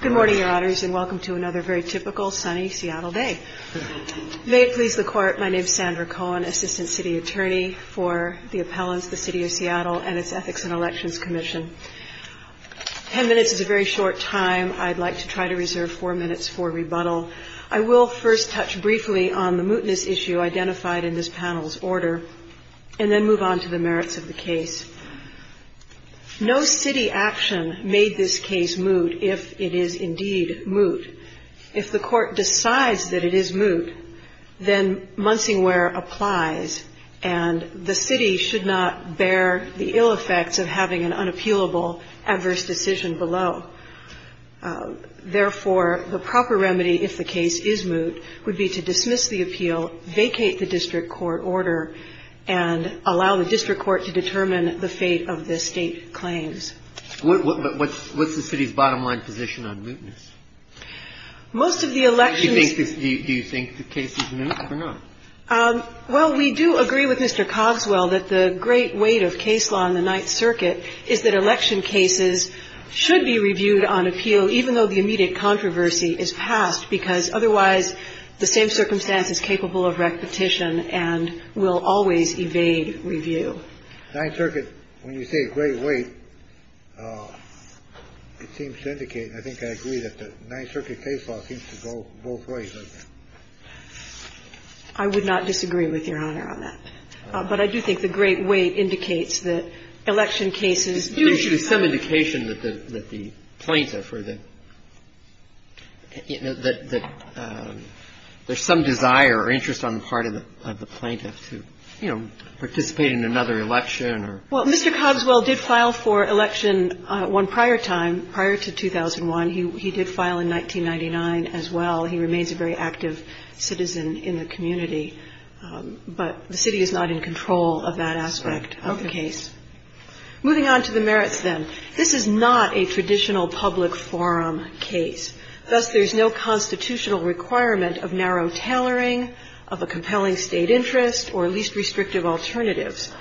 Good morning, Your Honors, and welcome to another very typical sunny Seattle day. May it please the Court, my name is Sandra Cohen, Assistant City Attorney for the Appellants, the City of Seattle, and its Ethics and Elections Commission. Ten minutes is a very short time. I'd like to try to reserve four minutes for rebuttal. I will first touch briefly on the mootness issue identified in this panel's order, and then move on to the merits of the case. No city action made this case moot if it is indeed moot. If the Court decides that it is moot, then Munsingware applies, and the city should not bear the ill effects of having an unappealable adverse decision below. Therefore, the proper remedy, if the case is moot, would be to dismiss the appeal, vacate the district court order, and allow the district court to determine the fate of the state claims. What's the city's bottom line position on mootness? Do you think the case is moot or not? Well, we do agree with Mr. Cogswell that the great weight of case law in the Ninth Circuit is that election cases should be reviewed on appeal, even though the immediate controversy is passed, because otherwise the same circumstance is capable of repetition and will always evade review. Ninth Circuit, when you say great weight, it seems to indicate, and I think I agree, that the Ninth Circuit case law seems to go both ways. I would not disagree with Your Honor on that. But I do think the great weight indicates that election cases do have to be reviewed. There should be some indication that the plaintiff or the – that there's some desire or interest on the part of the plaintiff to, you know, participate in another election or… Well, Mr. Cogswell did file for election one prior time, prior to 2001. He did file in 1999 as well. He remains a very active citizen in the community. But the city is not in control of that aspect of the case. Okay. Moving on to the merits, then. This is not a traditional public forum case. Thus, there's no constitutional requirement of narrow tailoring, of a compelling state interest, or least restrictive alternatives.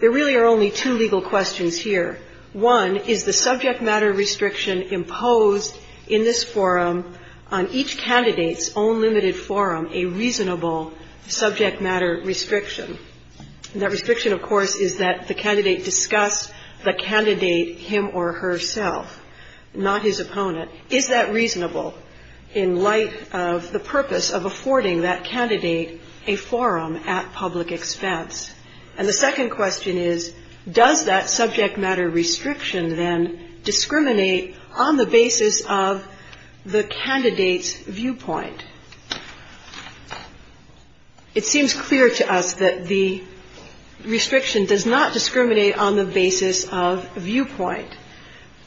There really are only two legal questions here. One, is the subject matter restriction imposed in this forum on each candidate's own limited forum a reasonable subject matter restriction? That restriction, of course, is that the candidate discuss the candidate him or herself, not his opponent. Is that reasonable in light of the purpose of affording that candidate a forum at public expense? And the second question is, does that subject matter restriction, then, discriminate on the basis of the candidate's viewpoint? It seems clear to us that the restriction does not discriminate on the basis of viewpoint.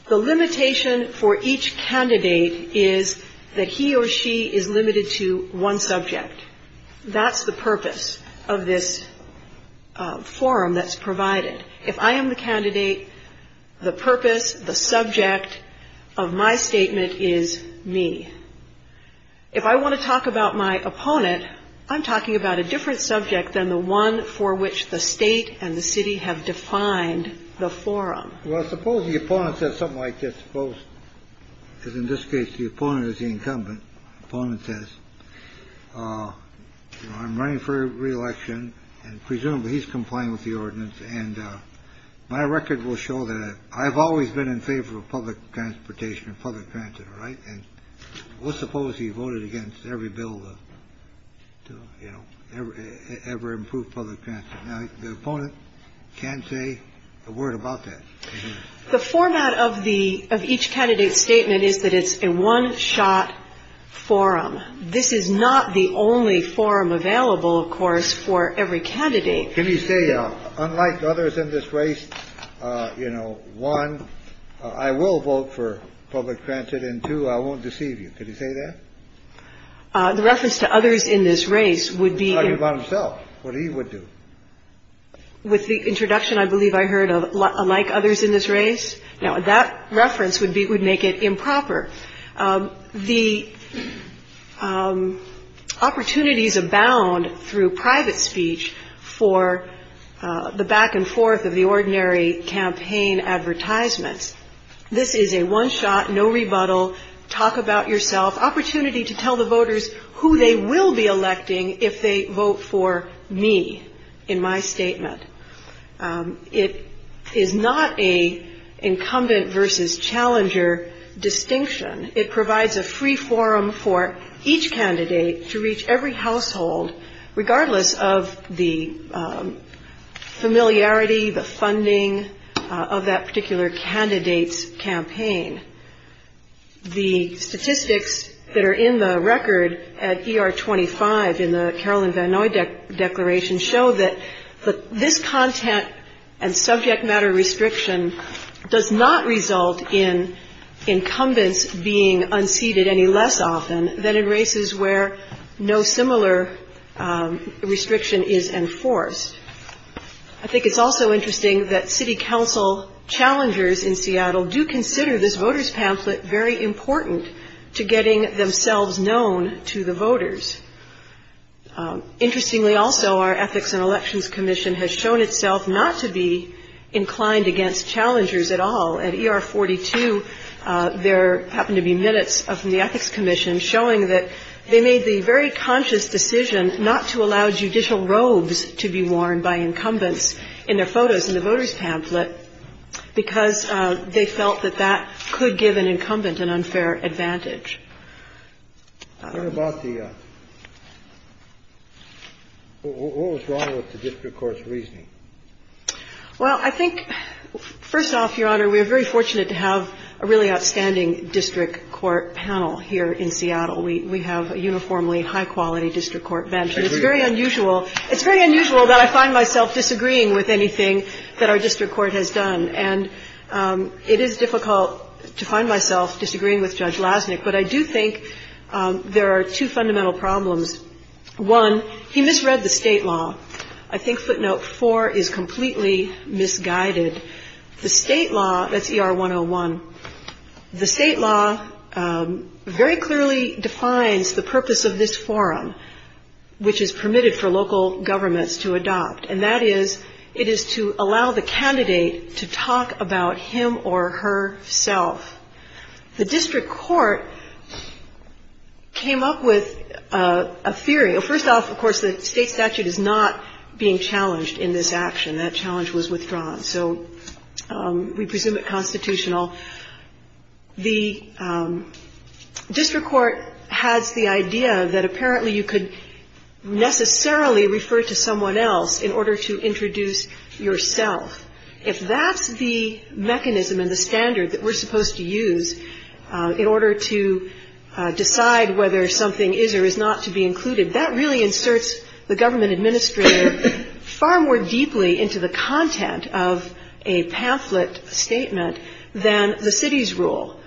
The limitation for each candidate is that he or she is limited to one subject. That's the purpose of this forum that's provided. If I am the candidate, the purpose, the subject of my statement is me. If I want to talk about my opponent, I'm talking about a different subject than the one for which the state and the city have defined the forum. Well, suppose the opponent says something like this. Suppose in this case, the opponent is the incumbent. Opponent says I'm running for reelection and presumably he's complying with the ordinance. And my record will show that I've always been in favor of public transportation and public transit. Right. And let's suppose he voted against every bill to, you know, ever improve public transit. Now, the opponent can say a word about that. The format of the of each candidate's statement is that it's a one shot forum. This is not the only forum available, of course, for every candidate. Can you say, unlike others in this race, you know, one, I will vote for public transit and two, I won't deceive you. Could you say that the reference to others in this race would be about himself? What he would do. With the introduction, I believe I heard of like others in this race. Now, that reference would be would make it improper. The opportunities abound through private speech for the back and forth of the ordinary campaign advertisements. This is a one shot, no rebuttal. Talk about yourself. Opportunity to tell the voters who they will be electing if they vote for me in my statement. It is not a incumbent versus challenger distinction. It provides a free forum for each candidate to reach every household, regardless of the familiarity, the funding of that particular candidate's campaign. The statistics that are in the record at E.R. being unseated any less often than in races where no similar restriction is enforced. I think it's also interesting that city council challengers in Seattle do consider this voters pamphlet very important to getting themselves known to the voters. Interestingly, also, our ethics and elections commission has shown itself not to be inclined against challengers at all. At E.R. 42, there happened to be minutes from the ethics commission showing that they made the very conscious decision not to allow judicial robes to be worn by incumbents in their photos in the voters pamphlet because they felt that that could give an incumbent an unfair advantage. What was wrong with the district court's reasoning? Well, I think, first off, Your Honor, we are very fortunate to have a really outstanding district court panel here in Seattle. We have a uniformly high-quality district court bench. I agree. It's very unusual. It's very unusual that I find myself disagreeing with anything that our district court has done. And it is difficult to find myself disagreeing with Judge Lasnik. But I do think there are two fundamental problems. One, he misread the state law. I think footnote four is completely misguided. The state law, that's E.R. 101, the state law very clearly defines the purpose of this forum, which is permitted for local governments to adopt. And that is, it is to allow the candidate to talk about him or herself. The district court came up with a theory. First off, of course, the state statute is not being challenged in this action. That challenge was withdrawn. So we presume it constitutional. The district court has the idea that apparently you could necessarily refer to someone else in order to introduce yourself. If that's the mechanism and the standard that we're supposed to use in order to decide whether something is or is not to be included, that really inserts the government administrator far more deeply into the content of a pamphlet statement than the city's rule.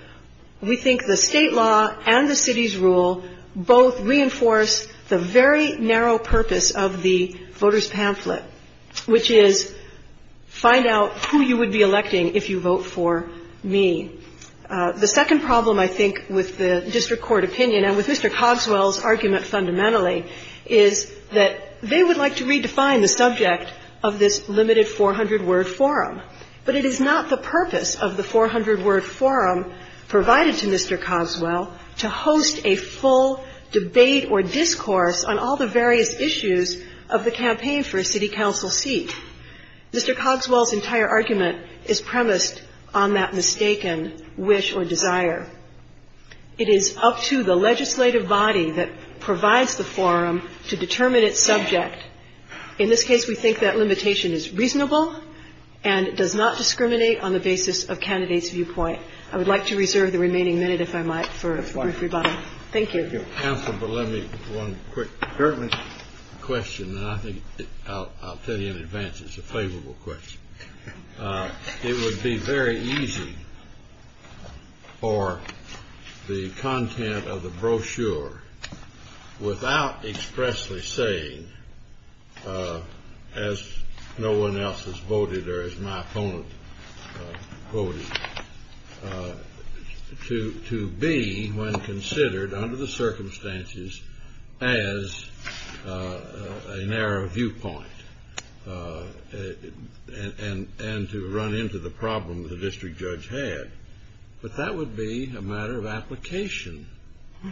We think the state law and the city's rule both reinforce the very narrow purpose of the voters pamphlet, which is find out who you would be electing if you vote for me. The second problem, I think, with the district court opinion and with Mr. Cogswell's argument fundamentally, is that they would like to redefine the subject of this limited 400-word forum. But it is not the purpose of the 400-word forum provided to Mr. Cogswell to host a full debate or discourse on all the various issues of the campaign for a city council seat. Mr. Cogswell's entire argument is premised on that mistaken wish or desire. It is up to the legislative body that provides the forum to determine its subject. In this case, we think that limitation is reasonable and does not discriminate on the basis of candidates' viewpoint. I would like to reserve the remaining minute, if I might, for everybody. Thank you. Counsel, but let me one quick question, and I think I'll tell you in advance it's a favorable question. It would be very easy for the content of the brochure, without expressly saying, as no one else has voted or as my opponent voted, to be, when considered under the circumstances, as a narrow viewpoint and to run into the problem that the district judge had. But that would be a matter of application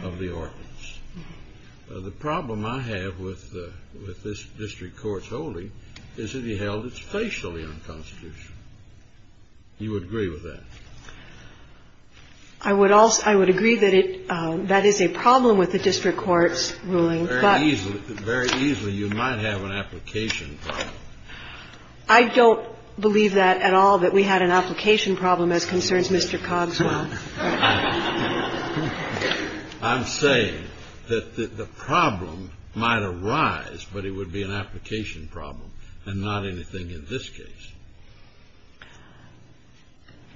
of the ordinance. The problem I have with this district court's holding is that he held it facially unconstitutional. You would agree with that? I would also agree that that is a problem with the district court's ruling. Very easily, you might have an application problem. I don't believe that at all, that we had an application problem as concerns Mr. Cogswell. I'm saying that the problem might arise, but it would be an application problem and not anything in this case.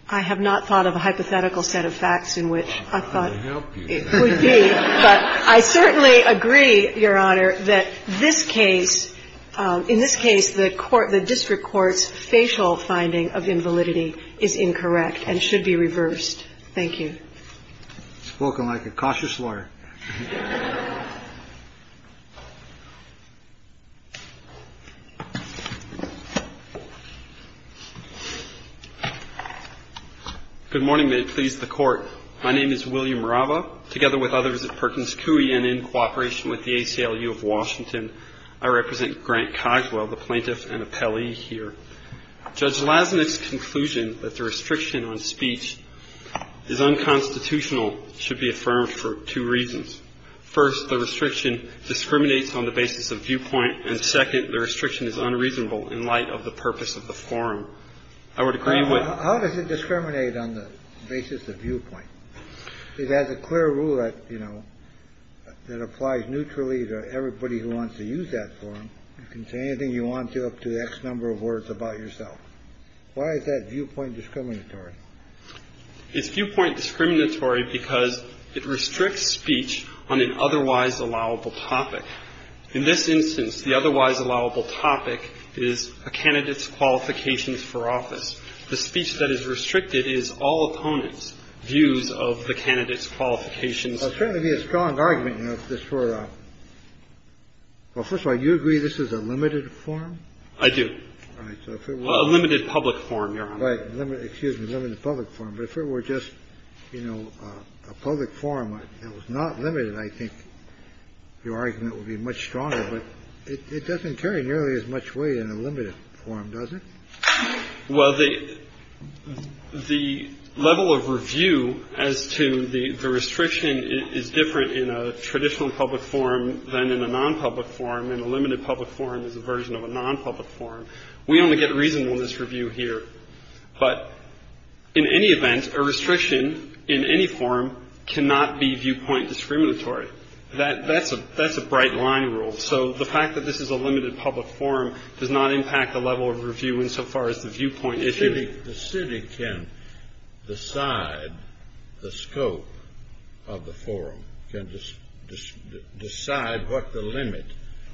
I have not thought of a hypothetical set of facts in which I thought it would be, but I certainly agree, Your Honor, that this case — in this case, the court — the district court's facial finding of invalidity is incorrect and should be reversed. Thank you. Spoken like a cautious lawyer. Good morning, may it please the Court. My name is William Rava. Together with others at Perkins Coie and in cooperation with the ACLU of Washington, I represent Grant Cogswell, the plaintiff and appellee here. Judge Lasnik's conclusion that the restriction on speech is unconstitutional should be affirmed for two reasons. First, the restriction discriminates on the basis of viewpoint, and second, the restriction is unreasonable in light of the purpose of the forum. I would agree with — How does it discriminate on the basis of viewpoint? It has a clear rule that, you know, that applies neutrally to everybody who wants to use that forum. You can say anything you want to up to the X number of words about yourself. Why is that viewpoint discriminatory? It's viewpoint discriminatory because it restricts speech on an otherwise allowable topic. In this instance, the otherwise allowable topic is a candidate's qualifications for office. The speech that is restricted is all opponents' views of the candidate's qualifications. Well, it would certainly be a strong argument, you know, if this were a — well, first of all, do you agree this is a limited forum? I do. All right. So if it were — Well, a limited public forum, Your Honor. Right. Excuse me. Limited public forum. But if it were just, you know, a public forum that was not limited, I think your argument would be much stronger. But it doesn't carry nearly as much weight in a limited forum, does it? Well, the level of review as to the restriction is different in a traditional public forum than in a non-public forum. And a limited public forum is a version of a non-public forum. We only get reasonable in this review here. But in any event, a restriction in any forum cannot be viewpoint discriminatory. That's a — that's a bright line rule. So the fact that this is a limited public forum does not impact the level of review insofar as the viewpoint issue — The city can decide the scope of the forum, can decide what the limit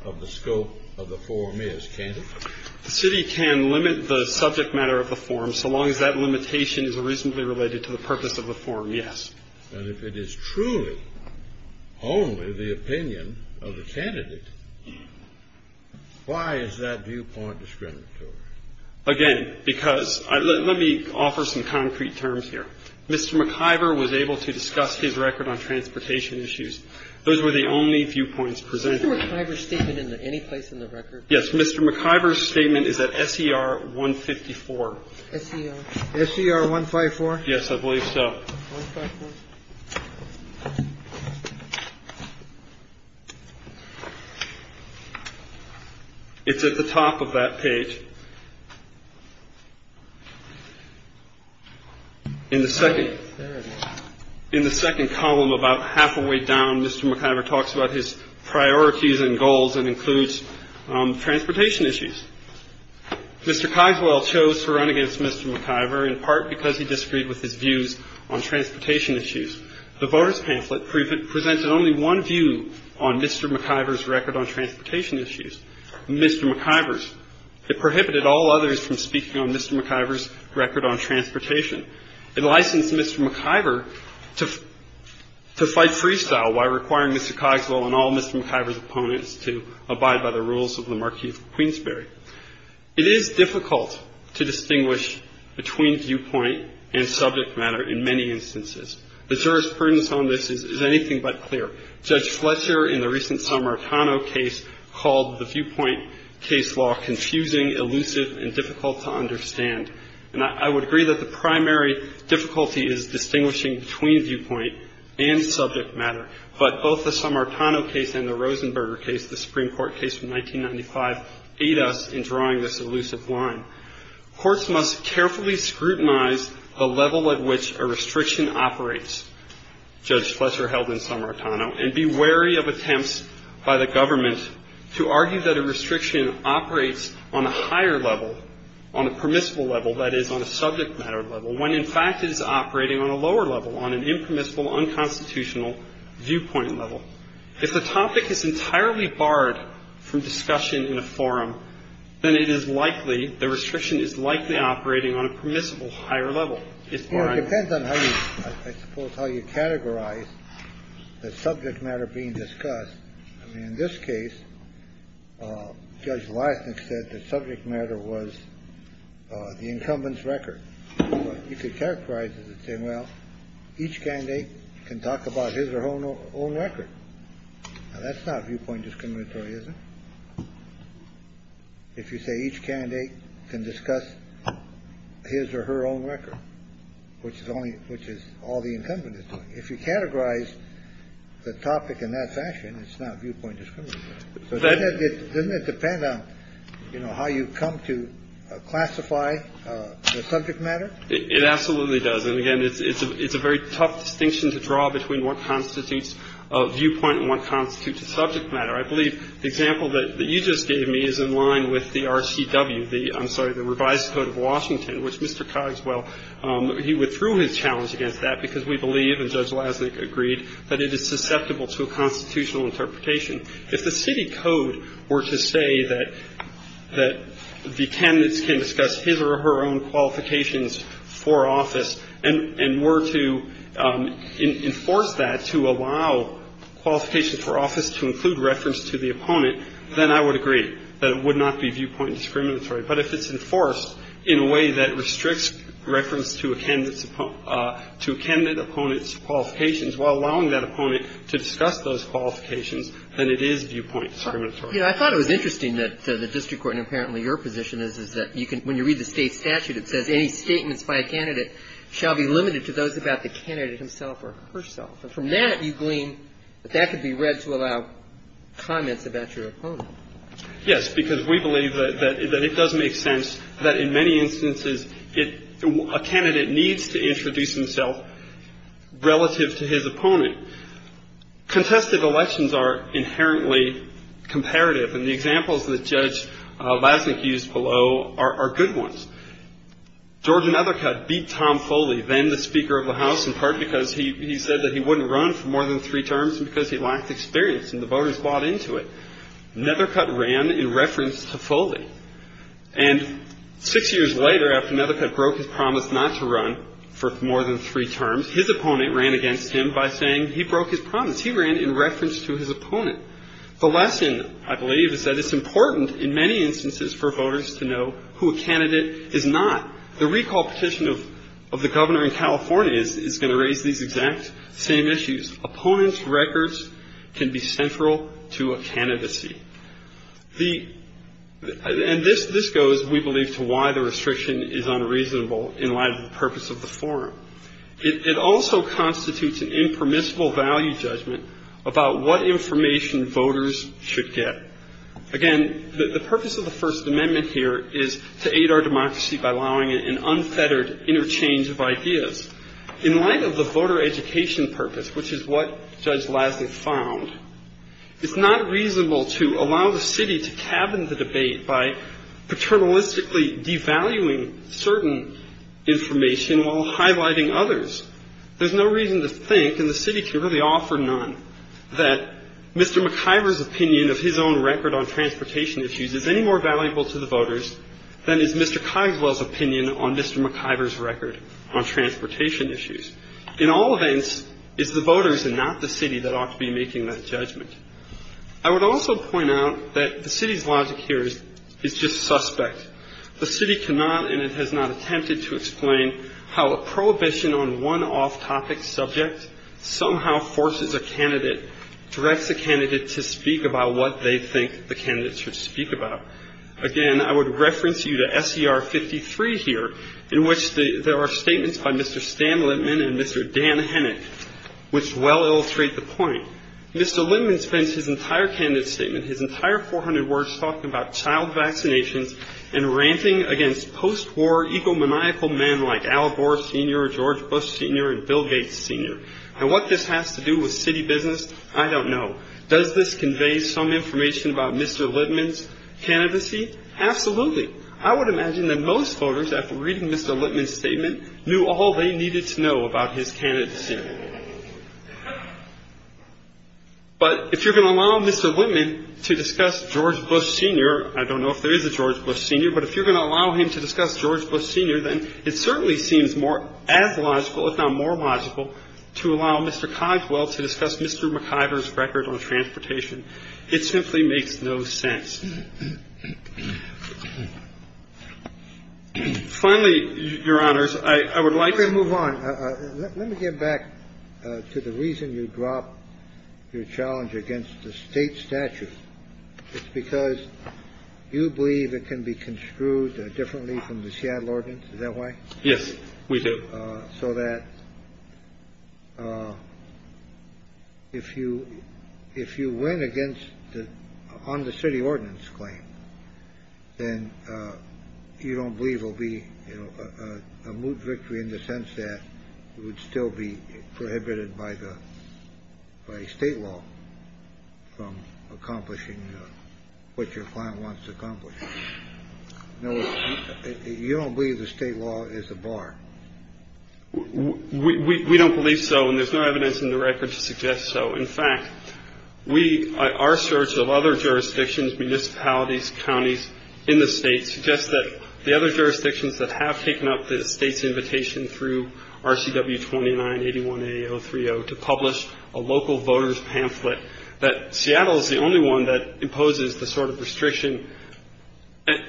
of the scope of the forum is, can't it? The city can limit the subject matter of the forum so long as that limitation is reasonably related to the purpose of the forum, yes. And if it is truly only the opinion of the candidate, why is that viewpoint discriminatory? Again, because — let me offer some concrete terms here. Mr. McIver was able to discuss his record on transportation issues. Those were the only viewpoints presented. Is Mr. McIver's statement in any place in the record? Yes. Mr. McIver's statement is at SER 154. SER? SER 154? Yes, I believe so. It's at the top of that page. In the second — in the second column, about halfway down, Mr. McIver talks about his priorities and goals and includes transportation issues. Mr. Cogswell chose to run against Mr. McIver in part because he disagreed with his views on transportation issues. The voters' pamphlet presented only one view on Mr. McIver's record on transportation issues, Mr. McIver's. It prohibited all others from speaking on Mr. McIver's record on transportation. It licensed Mr. McIver to fight freestyle while requiring Mr. Cogswell and all Mr. McIver's opponents to abide by the rules of the Marquis of Queensberry. It is difficult to distinguish between viewpoint and subject matter in many instances. The juror's prudence on this is anything but clear. Judge Fletcher in the recent Sammartano case called the viewpoint case law confusing, elusive, and difficult to understand. And I would agree that the primary difficulty is distinguishing between viewpoint and subject matter. But both the Sammartano case and the Rosenberger case, the Supreme Court case from 1995, aid us in drawing this elusive line. Courts must carefully scrutinize the level at which a restriction operates, Judge Fletcher held in Sammartano, and be wary of attempts by the government to argue that a restriction operates on a higher level, on a permissible level, that is, on a subject matter level, when in fact it is operating on a lower level, on an impermissible, unconstitutional viewpoint level. If the topic is entirely barred from discussion in a forum, then it is likely the restriction is likely operating on a permissible higher level. It's barred. It depends on how you, I suppose, how you categorize the subject matter being discussed. I mean, in this case, Judge Leisnick said the subject matter was the incumbent's record. You could characterize it and say, well, each candidate can talk about his or her own record. That's not viewpoint discriminatory, isn't it? If you say each candidate can discuss his or her own record, which is only which is all the incumbent. If you categorize the topic in that fashion, it's not viewpoint. So doesn't it depend on, you know, how you come to classify the subject matter? It absolutely does. And again, it's a very tough distinction to draw between what constitutes a viewpoint and what constitutes a subject matter. I believe the example that you just gave me is in line with the RCW, the I'm sorry, the revised Code of Washington, which Mr. Cogswell, he withdrew his challenge against that because we believe, and Judge Leisnick agreed, that it is susceptible to a constitutional interpretation. If the city code were to say that the candidates can discuss his or her own qualifications for office and were to enforce that to allow qualifications for office to include reference to the opponent, then I would agree that it would not be viewpoint discriminatory. But if it's enforced in a way that restricts reference to a candidate's, to a candidate opponent's qualifications while allowing that opponent to discuss those qualifications, then it is viewpoint discriminatory. You know, I thought it was interesting that the district court, and apparently your position is, is that you can, when you read the State statute, it says any statements by a candidate shall be limited to those about the candidate himself or herself. And from that, you glean that that could be read to allow comments about your opponent. Yes, because we believe that it does make sense that in many instances a candidate needs to introduce himself relative to his opponent. Contested elections are inherently comparative, and the examples that Judge Leisnick used below are good ones. George Nethercutt beat Tom Foley, then the Speaker of the House, in part because he said that he wouldn't run for more than three terms and because he lacked experience, and the voters bought into it. Nethercutt ran in reference to Foley, and six years later, after Nethercutt broke his promise not to run for more than three terms, his opponent ran against him by saying he broke his promise. He ran in reference to his opponent. The lesson, I believe, is that it's important in many instances for voters to know who a candidate is not. The recall petition of the governor in California is going to raise these exact same issues. Opponents' records can be central to a candidacy, and this goes, we believe, to why the restriction is unreasonable in light of the purpose of the forum. It also constitutes an impermissible value judgment about what information voters should get. Again, the purpose of the First Amendment here is to aid our democracy by allowing an unfettered interchange of ideas. In light of the voter education purpose, which is what Judge Lasnik found, it's not reasonable to allow the city to cabin the debate by paternalistically devaluing certain information while highlighting others. There's no reason to think, and the city can really offer none, that Mr. Cogswell's opinion on Mr. McIver's record on transportation issues. In all events, it's the voters and not the city that ought to be making that judgment. I would also point out that the city's logic here is just suspect. The city cannot and it has not attempted to explain how a prohibition on one off-topic subject somehow forces a candidate, directs a candidate to speak about what they think the candidate should speak about. Again, I would reference you to SER 53 here, in which there are statements by Mr. Stan Litman and Mr. Dan Hennick, which well illustrate the point. Mr. Litman spends his entire candidate statement, his entire 400 words, talking about child vaccinations and ranting against post-war, egomaniacal men like Al Gore Sr., George Bush Sr., and Bill Gates Sr. And what this has to do with city business, I don't know. Does this convey some information about Mr. Litman's candidacy? Absolutely. I would imagine that most voters, after reading Mr. Litman's statement, knew all they needed to know about his candidacy. But if you're going to allow Mr. Litman to discuss George Bush Sr. I don't know if there is a George Bush Sr., but if you're going to allow him to discuss George Bush Sr., then it certainly seems as logical, if not more logical, to allow Mr. Instead, there is the effort in New York to see if it's more logical to allow Ritchie to nip the story of George Bush Jr. in an old archiver's record on transportation. It simply makes no sense. Finally, your honors, I would like to move on. Let me get back to the reason you drop your challenge against the state statute. It's because you believe it can be construed differently from the Seattle ordinance. Is that why? Yes, we do. So that if you if you win against the on the city ordinance claim, then you don't believe will be a moot victory in the sense that it would still be prohibited by the state law from accomplishing what your client wants to accomplish. No, you don't believe the state law is the bar. We don't believe so. And there's no evidence in the record to suggest so. In fact, we are search of other jurisdictions, municipalities, counties in the states, just that the other jurisdictions that have taken up the state's invitation through RCW twenty nine eighty one eight zero three zero to publish a local voters pamphlet. That Seattle is the only one that imposes the sort of restriction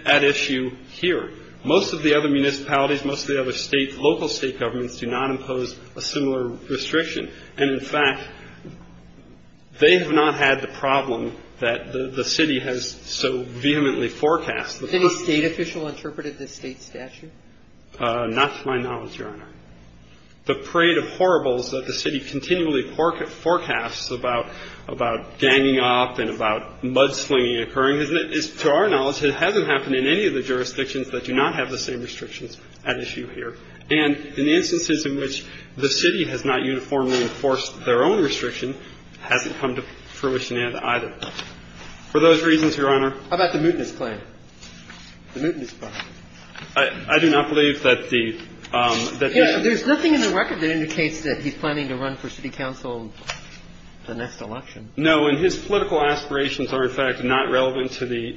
at issue here. Most of the other municipalities, most of the other states, local state governments do not impose a similar restriction. And in fact, they have not had the problem that the city has so vehemently forecast the state official interpreted the state statute. Not to my knowledge, Your Honor, the parade of horribles that the city continually forecast about about ganging up and about mudslinging occurring is to our knowledge. It hasn't happened in any of the jurisdictions that do not have the same restrictions at issue here. And in instances in which the city has not uniformly enforced their own restriction, hasn't come to fruition either. For those reasons, Your Honor, about the mutinous plan, the mutinous plan, I do not believe that the that there's nothing in the record that indicates that he's planning to run for city council the next election. No. And his political aspirations are, in fact, not relevant to the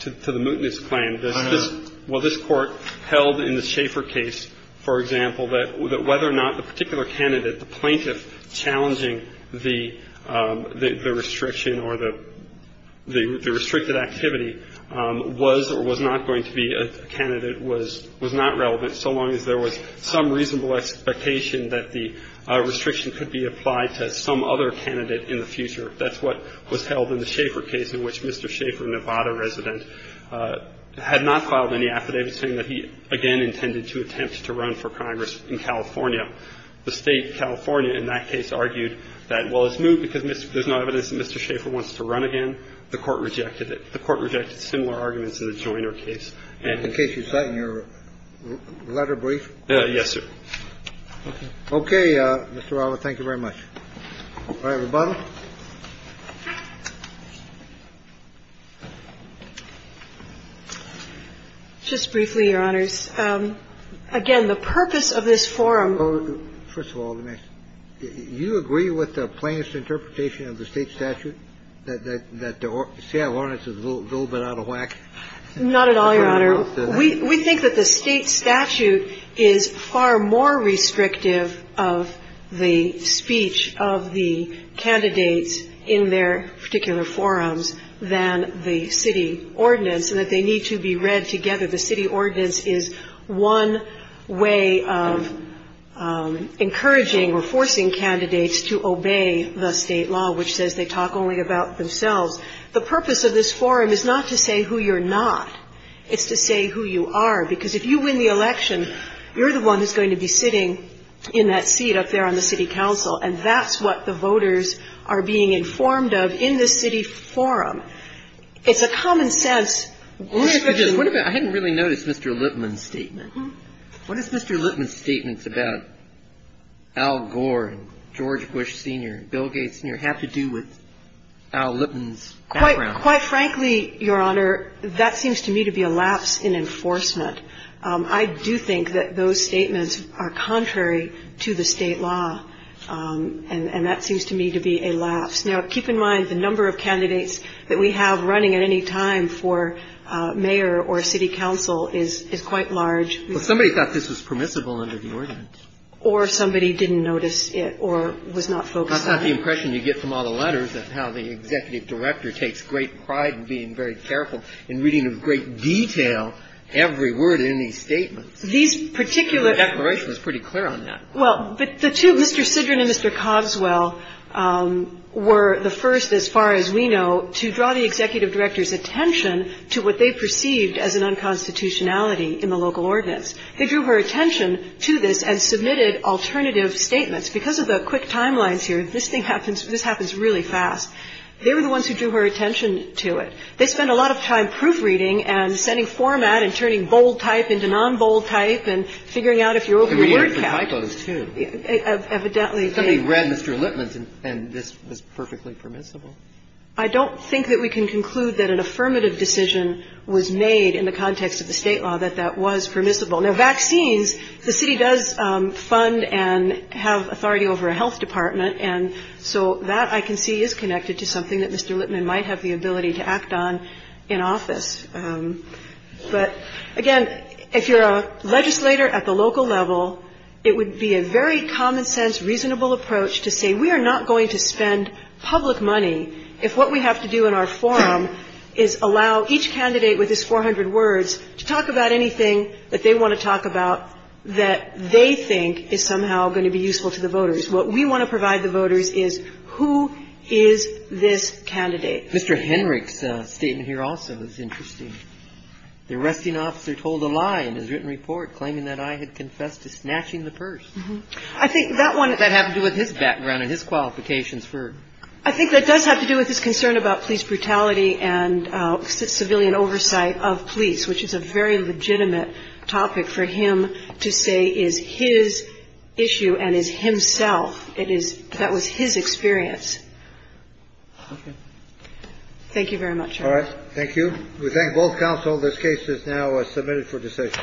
to the mutinous plan. This is what this court held in the Schaefer case, for example, that whether or not a particular candidate, the plaintiff challenging the the restriction or the the restricted activity was or was not going to be a candidate was was not relevant so long as there was some reasonable expectation that the restriction could be applied to some other candidate in the future. That's what was held in the Schaefer case in which Mr. Schaefer, a Nevada resident, had not filed any affidavits saying that he again intended to attempt to run for Congress in California. The State of California, in that case, argued that, well, it's moot because there's no evidence that Mr. Schaefer wants to run again. The Court rejected it. The Court rejected similar arguments in the Joyner case. And in case you'd like your letter brief. Yes, sir. Okay, Mr. Waller, thank you very much. All right, rebuttal. Just briefly, Your Honors. Again, the purpose of this forum. First of all, do you agree with the plaintiff's interpretation of the State statute that the Seattle ordinance is a little bit out of whack? Not at all, Your Honor. We think that the State statute is far more restrictive of the speech of the candidates in their particular forums than the city ordinance and that they need to be read together. The city ordinance is one way of encouraging or forcing candidates to obey the State law, which says they talk only about themselves. The purpose of this forum is not to say who you're not. It's to say who you are, because if you win the election, you're the one who's going to be sitting in that seat up there on the city council. And that's what the voters are being informed of in this city forum. It's a common sense restriction. I hadn't really noticed Mr. Lippman's statement. What does Mr. Lippman's statements about Al Gore, George Bush Sr., Bill Gates Sr. have to do with Al Lippman's background? Quite frankly, Your Honor, that seems to me to be a lapse in enforcement. I do think that those statements are contrary to the State law, and that seems to me to be a lapse. Now, keep in mind, the number of candidates that we have running at any time for mayor or city council is quite large. Well, somebody thought this was permissible under the ordinance. Or somebody didn't notice it or was not focused on it. That's not the impression you get from all the letters of how the executive director takes great pride in being very careful and reading in great detail every word in these statements. These particular- The declaration is pretty clear on that. Well, but the two, Mr. Sidron and Mr. Coswell, were the first, as far as we know, to draw the executive director's attention to what they perceived as an unconstitutionality in the local ordinance. They drew her attention to this and submitted alternative statements. Because of the quick timelines here, this thing happens, this happens really fast. They were the ones who drew her attention to it. They spent a lot of time proofreading and sending format and turning bold type into non-bold type and figuring out if you're over word count. There were different typos, too. Evidently. Somebody read Mr. Lippman's and this was perfectly permissible. I don't think that we can conclude that an affirmative decision was made in the context of the state law that that was permissible. Now, vaccines, the city does fund and have authority over a health department. And so that, I can see, is connected to something that Mr. Lippman might have the ability to act on in office. But, again, if you're a legislator at the local level, it would be a very common sense, reasonable approach to say we are not going to spend public money if what we have to do in our forum is allow each candidate with his 400 words to talk about anything that they want to talk about that they think is somehow going to be useful to the voters. What we want to provide the voters is who is this candidate. Mr. Henrich's statement here also is interesting. The arresting officer told a lie in his written report, claiming that I had confessed to snatching the purse. I think that one. That had to do with his background and his qualifications for. I think that does have to do with his concern about police brutality and civilian oversight of police, which is a very legitimate topic for him to say is his issue and is himself. It is that was his experience. Thank you very much. All right. Thank you. We thank both counsel. This case is now submitted for decision.